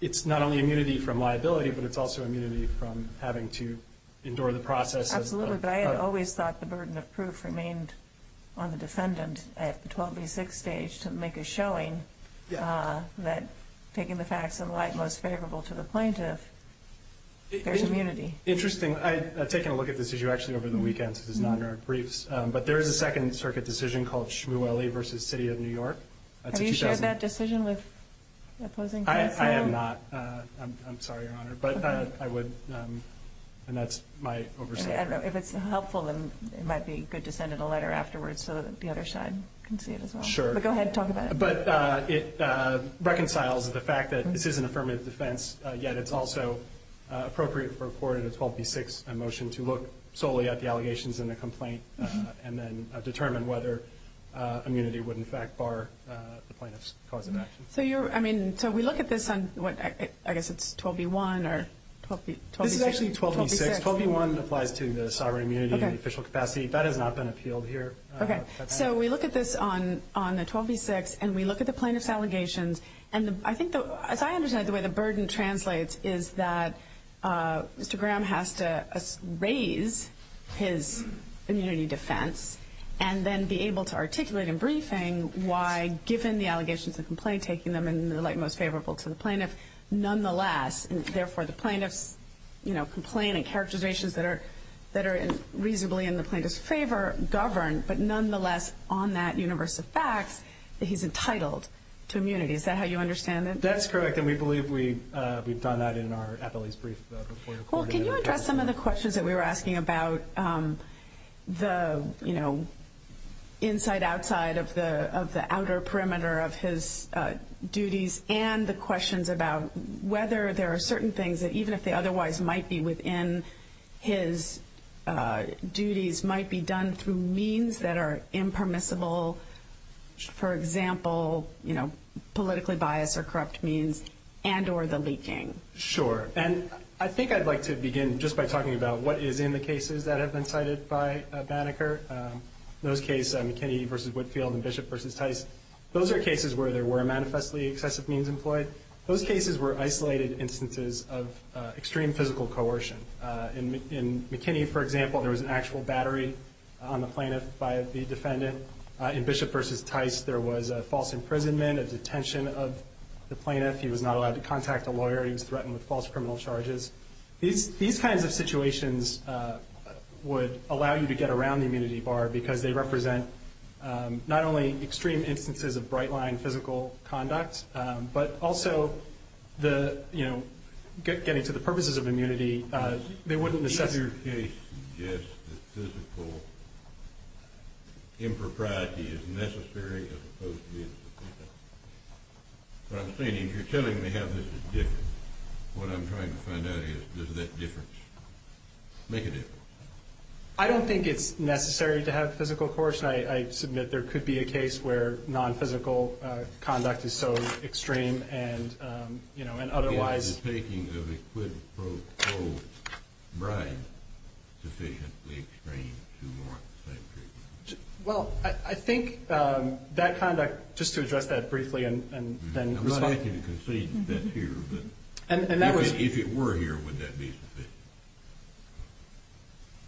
it's not only immunity from liability, but it's also immunity from having to endure the process of ---- Absolutely. But I had always thought the burden of proof remained on the defendant at the 12B6 stage to make a showing that taking the facts in light most favorable to the plaintiff, there's immunity. Interesting. I've taken a look at this issue actually over the weekend, so this is not in our briefs, but there is a Second Circuit decision called Shmueli v. City of New York. Have you shared that decision with opposing clients now? I have not. I'm sorry, Your Honor, but I would, and that's my oversight. If it's helpful, then it might be good to send in a letter afterwards so that the other side can see it as well. Sure. But go ahead and talk about it. But it reconciles the fact that this is an affirmative defense, yet it's also appropriate for a court in a 12B6 motion to look solely at the allegations in the complaint and then determine whether immunity would in fact bar the plaintiff's cause of action. So we look at this on, I guess it's 12B1 or 12B6. This is actually 12B6. 12B1 applies to the sovereign immunity and the official capacity. That has not been appealed here. Okay. So we look at this on the 12B6 and we look at the plaintiff's allegations. And I think, as I understand it, the way the burden translates is that Mr. Graham has to raise his immunity defense and then be able to articulate in briefing why, given the allegations in the complaint, taking them in the light most favorable to the plaintiff, nonetheless, and therefore the plaintiff's complaint and characterizations that are reasonably in the plaintiff's favor govern, but nonetheless, on that universe of facts, that he's entitled to immunity. Is that how you understand it? That's correct, and we believe we've done that in our appellee's brief report. Well, can you address some of the questions that we were asking about the inside-outside of the outer perimeter of his duties and the questions about whether there are certain things that, even if they otherwise might be within his duties, might be done through means that are impermissible, for example, politically biased or corrupt means, and or the leaking? Sure. And I think I'd like to begin just by talking about what is in the cases that have been cited by Banneker. In those cases, McKinney v. Whitfield and Bishop v. Tice, those are cases where there were manifestly excessive means employed. Those cases were isolated instances of extreme physical coercion. In McKinney, for example, there was an actual battery on the plaintiff by the defendant. In Bishop v. Tice, there was a false imprisonment, a detention of the plaintiff. He was not allowed to contact a lawyer. He was threatened with false criminal charges. These kinds of situations would allow you to get around the immunity bar because they represent not only extreme instances of bright-line physical conduct, but also, you know, getting to the purposes of immunity, they wouldn't necessarily- Does your case suggest that physical impropriety is necessary as opposed to being sufficient? What I'm saying is you're telling me how this is different. What I'm trying to find out is does that difference make a difference? I don't think it's necessary to have physical coercion. In fact, I submit there could be a case where non-physical conduct is so extreme and, you know, and otherwise- Is the taking of a quid pro quo bribe sufficiently extreme to warrant the same treatment? Well, I think that conduct-just to address that briefly and then- I'm asking you to concede that's here, but if it were here, would that be sufficient?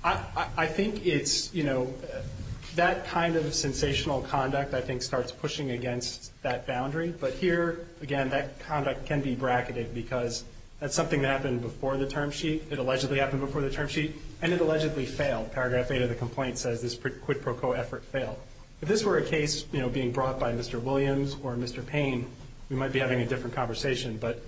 I think it's-you know, that kind of sensational conduct, I think, starts pushing against that boundary. But here, again, that conduct can be bracketed because that's something that happened before the term sheet. It allegedly happened before the term sheet, and it allegedly failed. Paragraph 8 of the complaint says this quid pro quo effort failed. If this were a case, you know, being brought by Mr. Williams or Mr. Payne, we might be having a different conversation. But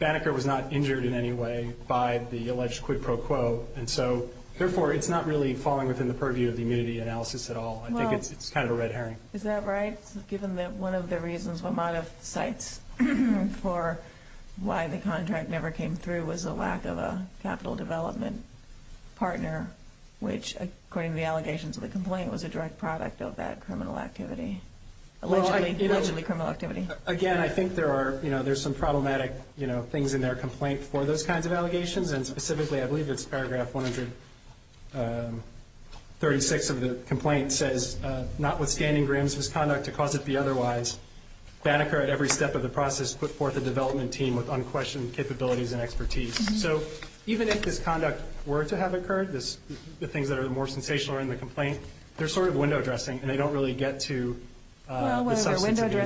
Banneker was not injured in any way by the alleged quid pro quo. And so, therefore, it's not really falling within the purview of the immunity analysis at all. I think it's kind of a red herring. Is that right? Given that one of the reasons Wamata cites for why the contract never came through was a lack of a capital development partner, which, according to the allegations of the complaint, was a direct product of that criminal activity-allegedly criminal activity. Again, I think there are, you know, there's some problematic, you know, things in their complaint for those kinds of allegations. And specifically, I believe it's paragraph 136 of the complaint says, notwithstanding Graham's misconduct to cause it to be otherwise, Banneker at every step of the process put forth a development team with unquestioned capabilities and expertise. So even if this conduct were to have occurred, the things that are more sensational are in the complaint, they're sort of window dressing, and they don't really get to the substance of the issue. The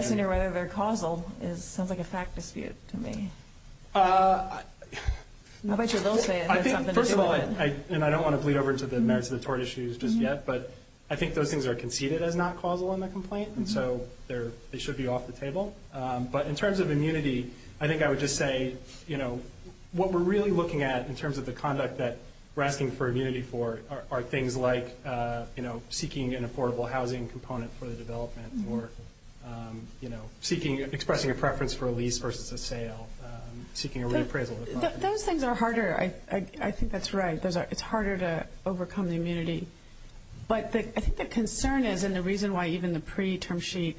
question of whether they're causal sounds like a fact dispute to me. I'll bet you they'll say it. First of all, and I don't want to bleed over into the merits of the tort issues just yet, but I think those things are conceded as not causal in the complaint, and so they should be off the table. But in terms of immunity, I think I would just say, you know, what we're really looking at in terms of the conduct that we're asking for immunity for are things like, you know, expressing a preference for a lease versus a sale, seeking a reappraisal. Those things are harder. I think that's right. It's harder to overcome the immunity. But I think the concern is, and the reason why even the pre-term sheet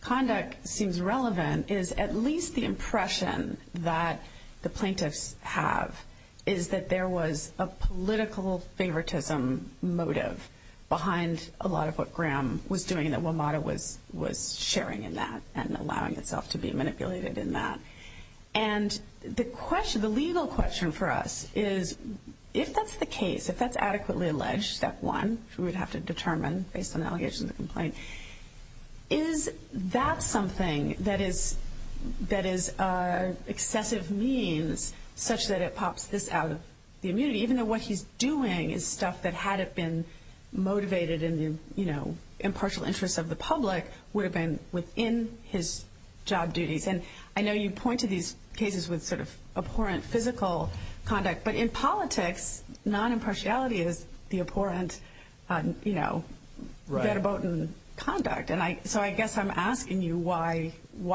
conduct seems relevant, is at least the impression that the plaintiffs have is that there was a political favoritism motive behind a lot of what Graham was doing and that WMATA was sharing in that and allowing itself to be manipulated in that. And the legal question for us is, if that's the case, if that's adequately alleged, step one, we would have to determine based on allegations of the complaint, is that something that is excessive means such that it pops this out of the immunity, even though what he's doing is stuff that, had it been motivated in the, you know, impartial interests of the public, would have been within his job duties. And I know you point to these cases with sort of abhorrent physical conduct, but in politics, non-impartiality is the abhorrent, you know, verboten conduct. And so I guess I'm asking you why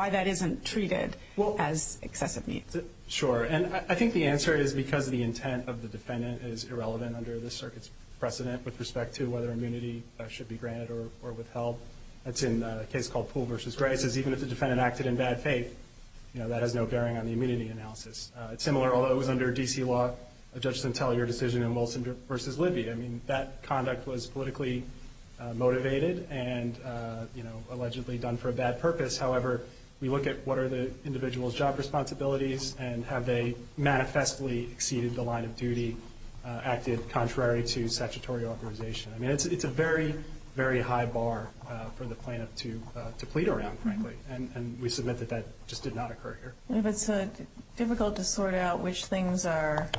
that isn't treated as excessive means. Sure. And I think the answer is because the intent of the defendant is irrelevant under this circuit's precedent with respect to whether immunity should be granted or withheld. That's in a case called Poole v. Gray. It says even if the defendant acted in bad faith, you know, that has no bearing on the immunity analysis. It's similar, although it was under D.C. law, a judge didn't tell your decision in Wilson v. Libby. I mean, that conduct was politically motivated and, you know, allegedly done for a bad purpose. However, we look at what are the individual's job responsibilities and have they manifestly exceeded the line of duty acted contrary to statutory authorization. I mean, it's a very, very high bar for the plaintiff to plead around, frankly. And we submit that that just did not occur here. If it's difficult to sort out which things are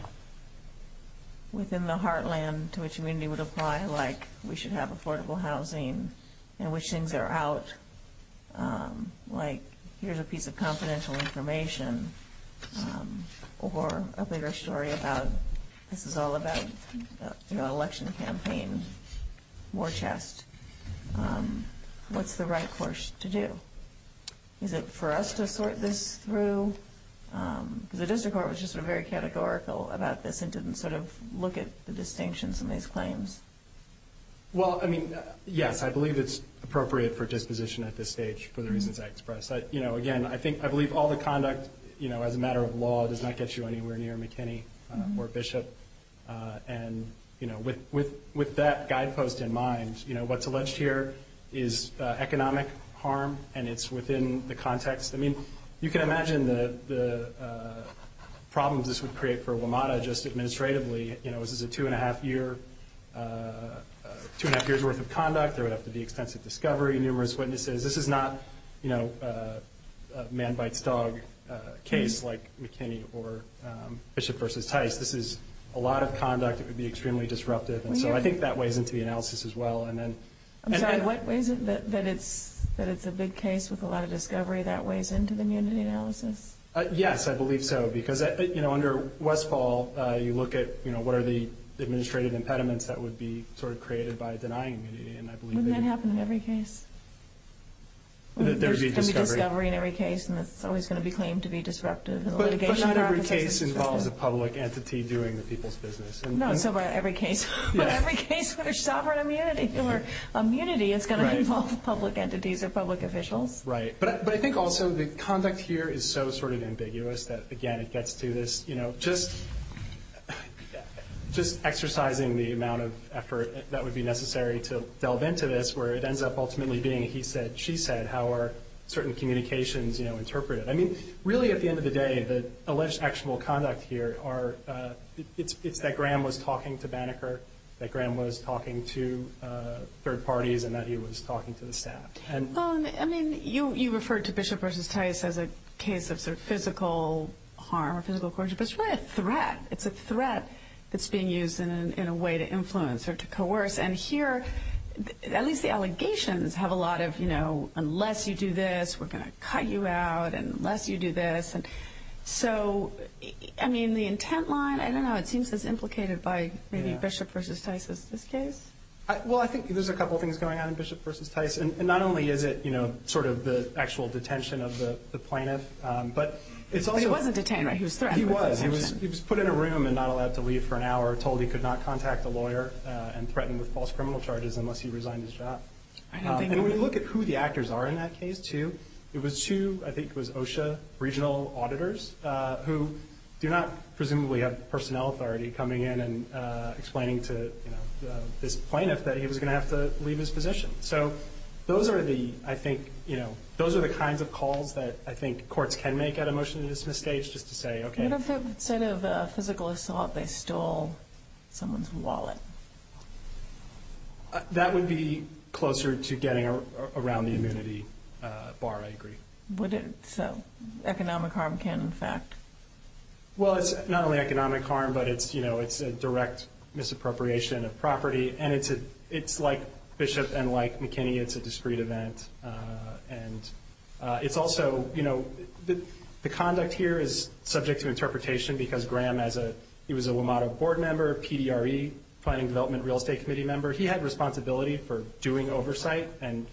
within the heartland to which immunity would apply, like we should have affordable housing and which things are out, like here's a piece of confidential information or a bigger story about this is all about the election campaign, war chest, what's the right course to do? Is it for us to sort this through? The district court was just sort of very categorical about this and didn't sort of look at the distinctions in these claims. Well, I mean, yes, I believe it's appropriate for disposition at this stage for the reasons I expressed. You know, again, I think I believe all the conduct, you know, as a matter of law, does not get you anywhere near McKinney or Bishop. And, you know, with that guidepost in mind, you know, what's alleged here is economic harm, and it's within the context. I mean, you can imagine the problems this would create for WMATA just administratively. You know, this is a two-and-a-half year's worth of conduct. There would have to be extensive discovery, numerous witnesses. This is not, you know, a man bites dog case like McKinney or Bishop versus Tice. This is a lot of conduct that would be extremely disruptive. And so I think that weighs into the analysis as well. I'm sorry, what weighs in? That it's a big case with a lot of discovery, that weighs into the immunity analysis? Yes, I believe so. Because, you know, under Westfall, you look at, you know, what are the administrative impediments that would be sort of created by denying immunity. Wouldn't that happen in every case? There would be discovery in every case, and it's always going to be claimed to be disruptive. But not every case involves a public entity doing the people's business. No, so about every case. But every case where sovereign immunity is going to involve public entities or public officials. Right. But I think also the conduct here is so sort of ambiguous that, again, it gets to this, you know, just exercising the amount of effort that would be necessary to delve into this, where it ends up ultimately being he said, she said. How are certain communications, you know, interpreted? I mean, really at the end of the day, the alleged actionable conduct here are, it's that Graham was talking to Banneker, that Graham was talking to third parties, and that he was talking to the staff. I mean, you referred to Bishop v. Tice as a case of sort of physical harm or physical coercion, but it's really a threat. It's a threat that's being used in a way to influence or to coerce. And here, at least the allegations have a lot of, you know, unless you do this, we're going to cut you out unless you do this. And so, I mean, the intent line, I don't know, it seems as implicated by maybe Bishop v. Tice as this case. Well, I think there's a couple things going on in Bishop v. Tice. And not only is it, you know, sort of the actual detention of the plaintiff, but it's also. But he wasn't detained, right? He was threatened. He was. He was put in a room and not allowed to leave for an hour, told he could not contact a lawyer and threatened with false criminal charges unless he resigned his job. And when you look at who the actors are in that case, too, it was two, I think it was OSHA regional auditors who do not presumably have personnel authority coming in and explaining to this plaintiff that he was going to have to leave his position. So those are the, I think, you know, those are the kinds of calls that I think courts can make at a motion to dismiss stage just to say, okay. What if instead of physical assault, they stole someone's wallet? That would be closer to getting around the immunity bar, I agree. Would it? So economic harm can in fact. Well, it's not only economic harm, but it's, you know, it's a direct misappropriation of property. And it's like Bishop and like McKinney, it's a discrete event. And it's also, you know, the conduct here is subject to interpretation because Graham as a, he was a WMATA board member, PDRE, Planning Development Real Estate Committee member. He had responsibility for doing oversight and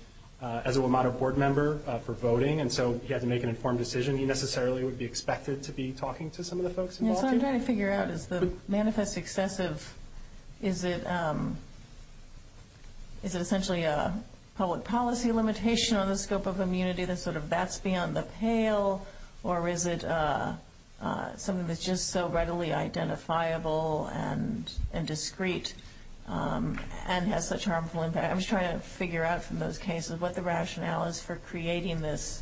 as a WMATA board member for voting. And so he had to make an informed decision. He necessarily would be expected to be talking to some of the folks involved here. So I'm trying to figure out, is the manifest excessive, is it essentially a public policy limitation on the scope of immunity? Then sort of that's beyond the pale. Or is it something that's just so readily identifiable and discrete and has such harmful impact? I'm just trying to figure out from those cases what the rationale is for creating this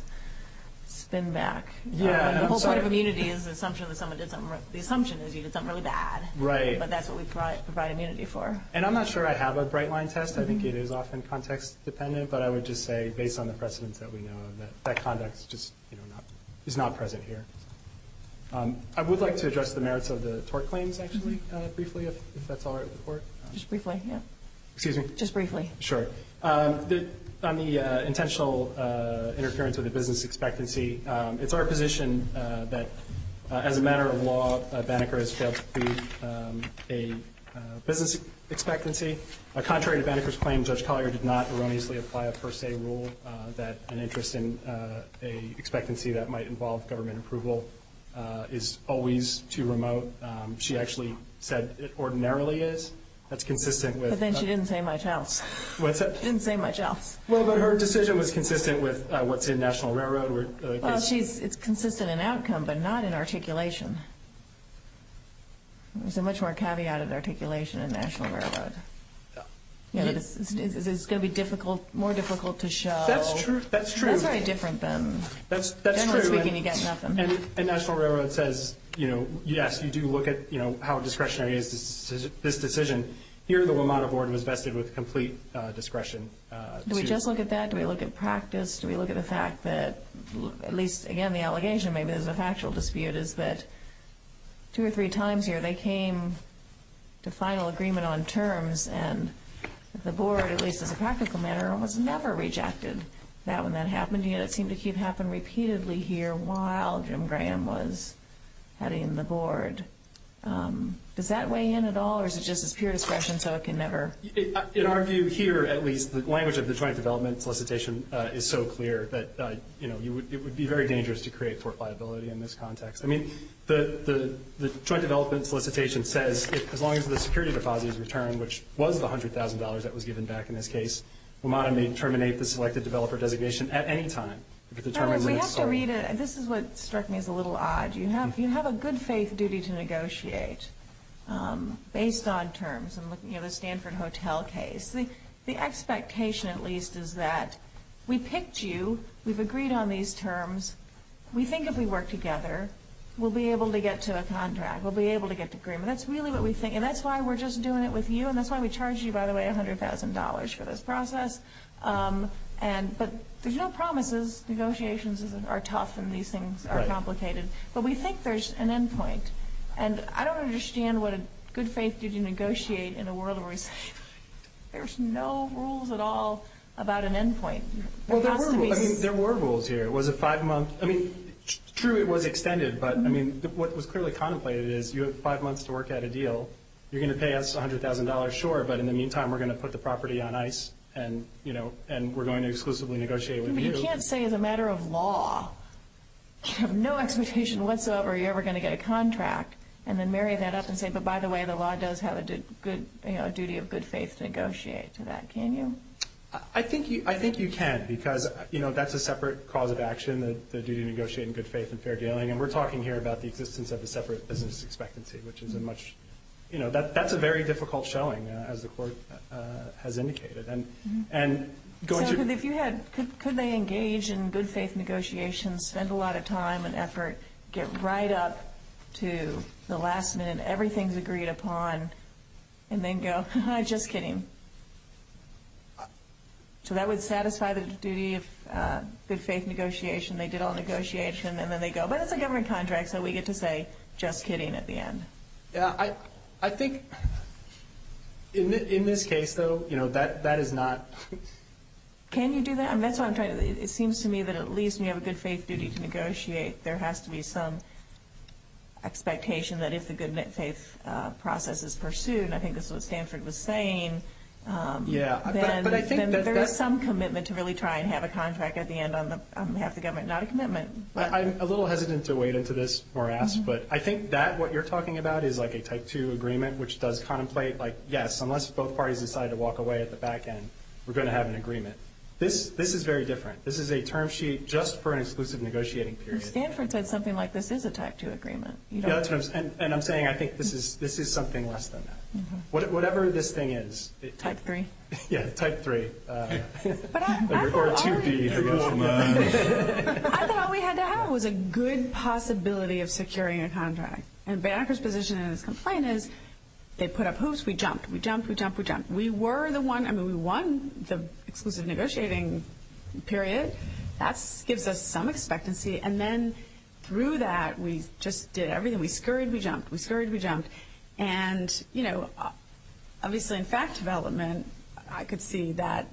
spin back. Yeah, I'm sorry. The whole point of immunity is the assumption that someone did something, the assumption is you did something really bad. Right. But that's what we provide immunity for. And I'm not sure I have a bright line test. I think it is often context dependent. But I would just say, based on the precedents that we know of, that that context just is not present here. I would like to address the merits of the tort claims, actually, briefly, if that's all right with the court. Just briefly, yeah. Excuse me? Just briefly. Sure. On the intentional interference with the business expectancy, it's our position that as a matter of law, Banneker has failed to meet a business expectancy. Contrary to Banneker's claim, Judge Collier did not erroneously apply a per se rule that an interest in an expectancy that might involve government approval is always too remote. She actually said it ordinarily is. That's consistent with the… But then she didn't say much else. What's that? She didn't say much else. Well, but her decision was consistent with what's in National Railroad. Well, it's consistent in outcome, but not in articulation. There's a much more caveated articulation in National Railroad. It's going to be more difficult to show. That's true. That's very different than… That's true. Generally speaking, you get nothing. And National Railroad says, you know, yes, you do look at how discretionary is this decision. Here, the WMATA Board was vested with complete discretion. Do we just look at that? Do we look at practice? Do we look at the fact that at least, again, the allegation, maybe there's a factual dispute, is that two or three times here they came to final agreement on terms, and the Board, at least as a practical matter, almost never rejected that when that happened. Yet it seemed to keep happening repeatedly here while Jim Graham was heading the Board. Does that weigh in at all, or is it just as pure discretion so it can never…? The language of the Joint Development Solicitation is so clear that, you know, it would be very dangerous to create tort liability in this context. I mean, the Joint Development Solicitation says as long as the security deposit is returned, which was the $100,000 that was given back in this case, WMATA may terminate the selected developer designation at any time. We have to read it. This is what struck me as a little odd. You have a good faith duty to negotiate based on terms. You know, the Stanford Hotel case. The expectation, at least, is that we picked you. We've agreed on these terms. We think if we work together, we'll be able to get to a contract. We'll be able to get to agreement. That's really what we think, and that's why we're just doing it with you, and that's why we charged you, by the way, $100,000 for this process. But there's no promises. Negotiations are tough, and these things are complicated. But we think there's an end point. And I don't understand what a good faith duty to negotiate in a world where there's no rules at all about an end point. Well, there were rules. I mean, there were rules here. It was a five-month. I mean, true, it was extended. But, I mean, what was clearly contemplated is you have five months to work out a deal. You're going to pay us $100,000, sure, but in the meantime we're going to put the property on ice and, you know, and we're going to exclusively negotiate with you. But you can't say as a matter of law, you have no expectation whatsoever you're ever going to get a contract and then marry that up and say, but by the way, the law does have a duty of good faith to negotiate to that, can you? I think you can because, you know, that's a separate cause of action, the duty to negotiate in good faith and fair dealing, and we're talking here about the existence of a separate business expectancy, which is a much, you know, that's a very difficult showing, as the court has indicated. So could they engage in good faith negotiations, spend a lot of time and effort, get right up to the last minute, everything's agreed upon, and then go, just kidding. So that would satisfy the duty of good faith negotiation. They did all the negotiation and then they go, but it's a government contract, so we get to say, just kidding at the end. I think in this case, though, you know, that is not. Can you do that? It seems to me that at least when you have a good faith duty to negotiate, there has to be some expectation that if the good faith process is pursued, I think that's what Stanford was saying, then there is some commitment to really try and have a contract at the end on behalf of the government, not a commitment. I'm a little hesitant to wade into this more ask, but I think that what you're talking about is like a type two agreement, which does contemplate, like, yes, unless both parties decide to walk away at the back end, we're going to have an agreement. This is very different. This is a term sheet just for an exclusive negotiating period. Stanford said something like this is a type two agreement. Yeah, and I'm saying I think this is something less than that. Whatever this thing is. Type three. Yeah, type three. Or 2B. I thought all we had to have was a good possibility of securing a contract. And Banneker's position in his complaint is they put up hoops, we jumped. We jumped, we jumped, we jumped. We were the one. I mean, we won the exclusive negotiating period. That gives us some expectancy. And then through that, we just did everything. We scurried, we jumped. We scurried, we jumped. And, you know, obviously in fact development, I could see that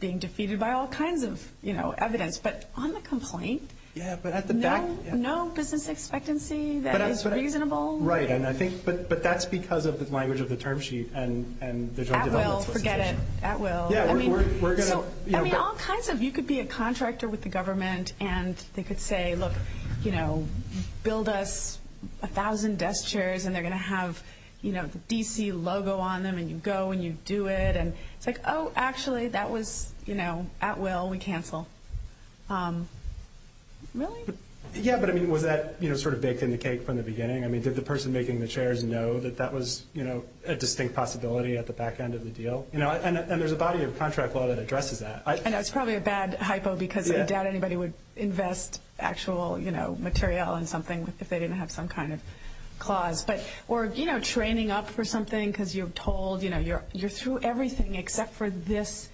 being defeated by all kinds of, you know, evidence. But on the complaint, no business expectancy that is reasonable. Right. But that's because of the language of the term sheet and the joint development solicitation. At will. Forget it. At will. Yeah, we're going to. I mean, all kinds of. You could be a contractor with the government and they could say, look, you know, build us a thousand desk chairs and they're going to have, you know, the D.C. logo on them and you go and you do it. And it's like, oh, actually, that was, you know, at will. We cancel. Really? Yeah, but, I mean, was that sort of baked in the cake from the beginning? I mean, did the person making the chairs know that that was, you know, a distinct possibility at the back end of the deal? You know, and there's a body of contract law that addresses that. I know it's probably a bad hypo because I doubt anybody would invest actual, you know, material in something if they didn't have some kind of clause. But, or, you know, training up for something because you're told, you know, you're through everything except for this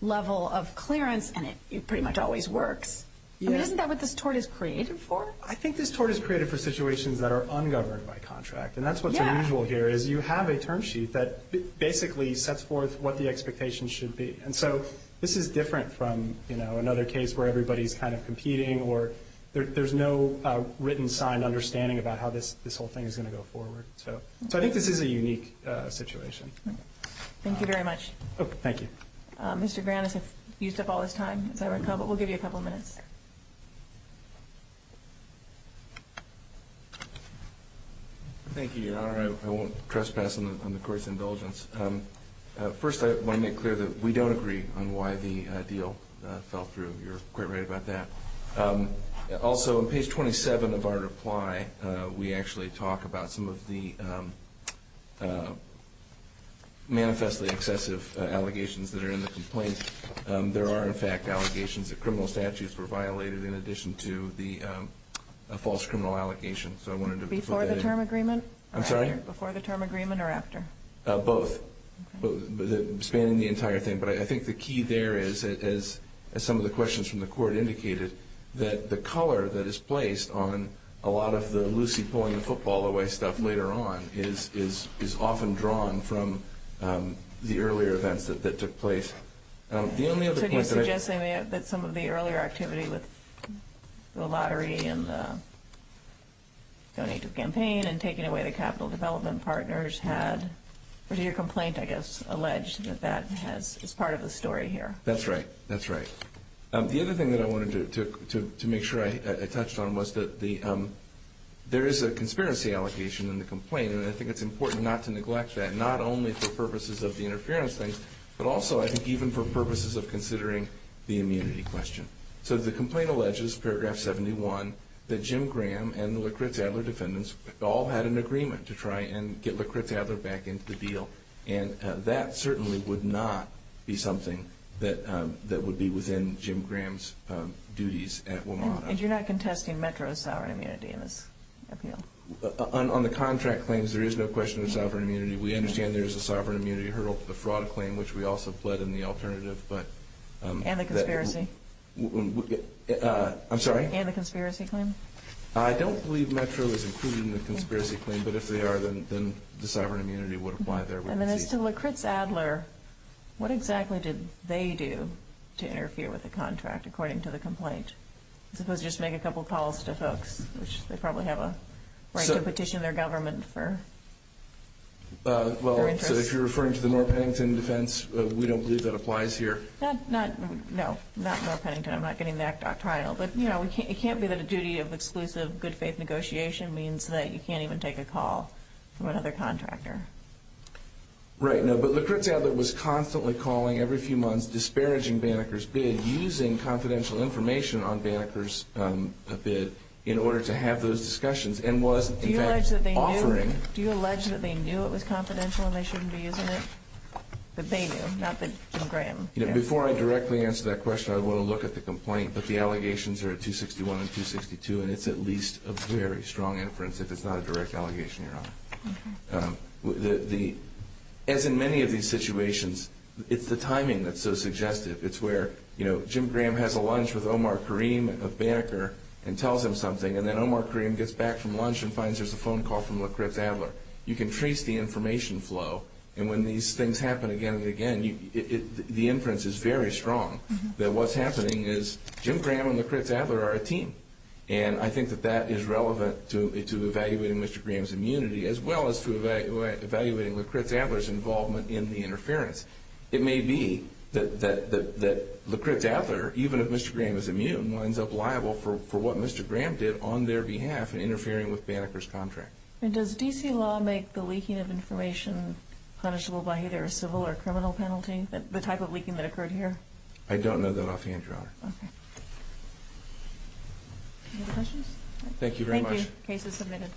level of clearance and it pretty much always works. I mean, isn't that what this tort is created for? I think this tort is created for situations that are ungoverned by contract. And that's what's unusual here is you have a term sheet that basically sets forth what the expectations should be. And so this is different from, you know, another case where everybody's kind of competing or there's no written signed understanding about how this whole thing is going to go forward. So I think this is a unique situation. Thank you very much. Oh, thank you. Mr. Grannis, you've used up all this time. Is that right? We'll give you a couple of minutes. Thank you, Your Honor. I won't trespass on the Court's indulgence. First, I want to make clear that we don't agree on why the deal fell through. You're quite right about that. Also, on page 27 of our reply, we actually talk about some of the manifestly excessive allegations that are in the complaint. There are, in fact, allegations that criminal statutes were violated in addition to the false criminal allegations. So I wanted to put that in. Before the term agreement? I'm sorry? Before the term agreement or after? Both. Spanning the entire thing. But I think the key there is, as some of the questions from the Court indicated, that the color that is placed on a lot of the Lucy pulling the football away stuff later on is often drawn from the earlier events that took place. The only other point that I have is that some of the earlier activity with the lottery and the donative campaign and taking away the capital development partners had, or your complaint, I guess, alleged that that is part of the story here. That's right. That's right. The other thing that I wanted to make sure I touched on was that there is a conspiracy allocation in the complaint, and I think it's important not to neglect that, not only for purposes of the interference thing, but also, I think, even for purposes of considering the immunity question. So the complaint alleges, paragraph 71, that Jim Graham and the LaCritz-Adler defendants all had an agreement to try and get LaCritz-Adler back into the deal, and that certainly would not be something that would be within Jim Graham's duties at WMATA. And you're not contesting Metro's sovereign immunity in this appeal? On the contract claims, there is no question of sovereign immunity. We understand there is a sovereign immunity hurdle to the fraud claim, which we also fled in the alternative. And the conspiracy? I'm sorry? And the conspiracy claim? I don't believe Metro is including the conspiracy claim, but if they are, then the sovereign immunity would apply there. And then as to LaCritz-Adler, what exactly did they do to interfere with the contract, according to the complaint? I suppose just make a couple calls to folks, which they probably have a right to petition their government for their interests. Well, if you're referring to the North Paddington defense, we don't believe that applies here. No, not North Paddington. I'm not getting the act doctrinal. But, you know, it can't be that a duty of exclusive good-faith negotiation means that you can't even take a call from another contractor. Right. No, but LaCritz-Adler was constantly calling every few months disparaging Banneker's bid, using confidential information on Banneker's bid in order to have those discussions, and was, in fact, offering. Do you allege that they knew it was confidential and they shouldn't be using it? That they knew, not that Jim Graham knew. Before I directly answer that question, I want to look at the complaint, but the allegations are at 261 and 262, and it's at least a very strong inference if it's not a direct allegation, Your Honor. As in many of these situations, it's the timing that's so suggestive. It's where, you know, Jim Graham has a lunch with Omar Kareem of Banneker and tells him something, and then Omar Kareem gets back from lunch and finds there's a phone call from LaCritz-Adler. You can trace the information flow, and when these things happen again and again, the inference is very strong that what's happening is Jim Graham and LaCritz-Adler are a team, and I think that that is relevant to evaluating Mr. Graham's immunity as well as to evaluating LaCritz-Adler's involvement in the interference. It may be that LaCritz-Adler, even if Mr. Graham is immune, winds up liable for what Mr. Graham did on their behalf in interfering with Banneker's contract. And does D.C. law make the leaking of information punishable by either a civil or criminal penalty, the type of leaking that occurred here? I don't know that offhand, Your Honor. Okay. Any other questions? Thank you very much. Thank you. Case is submitted.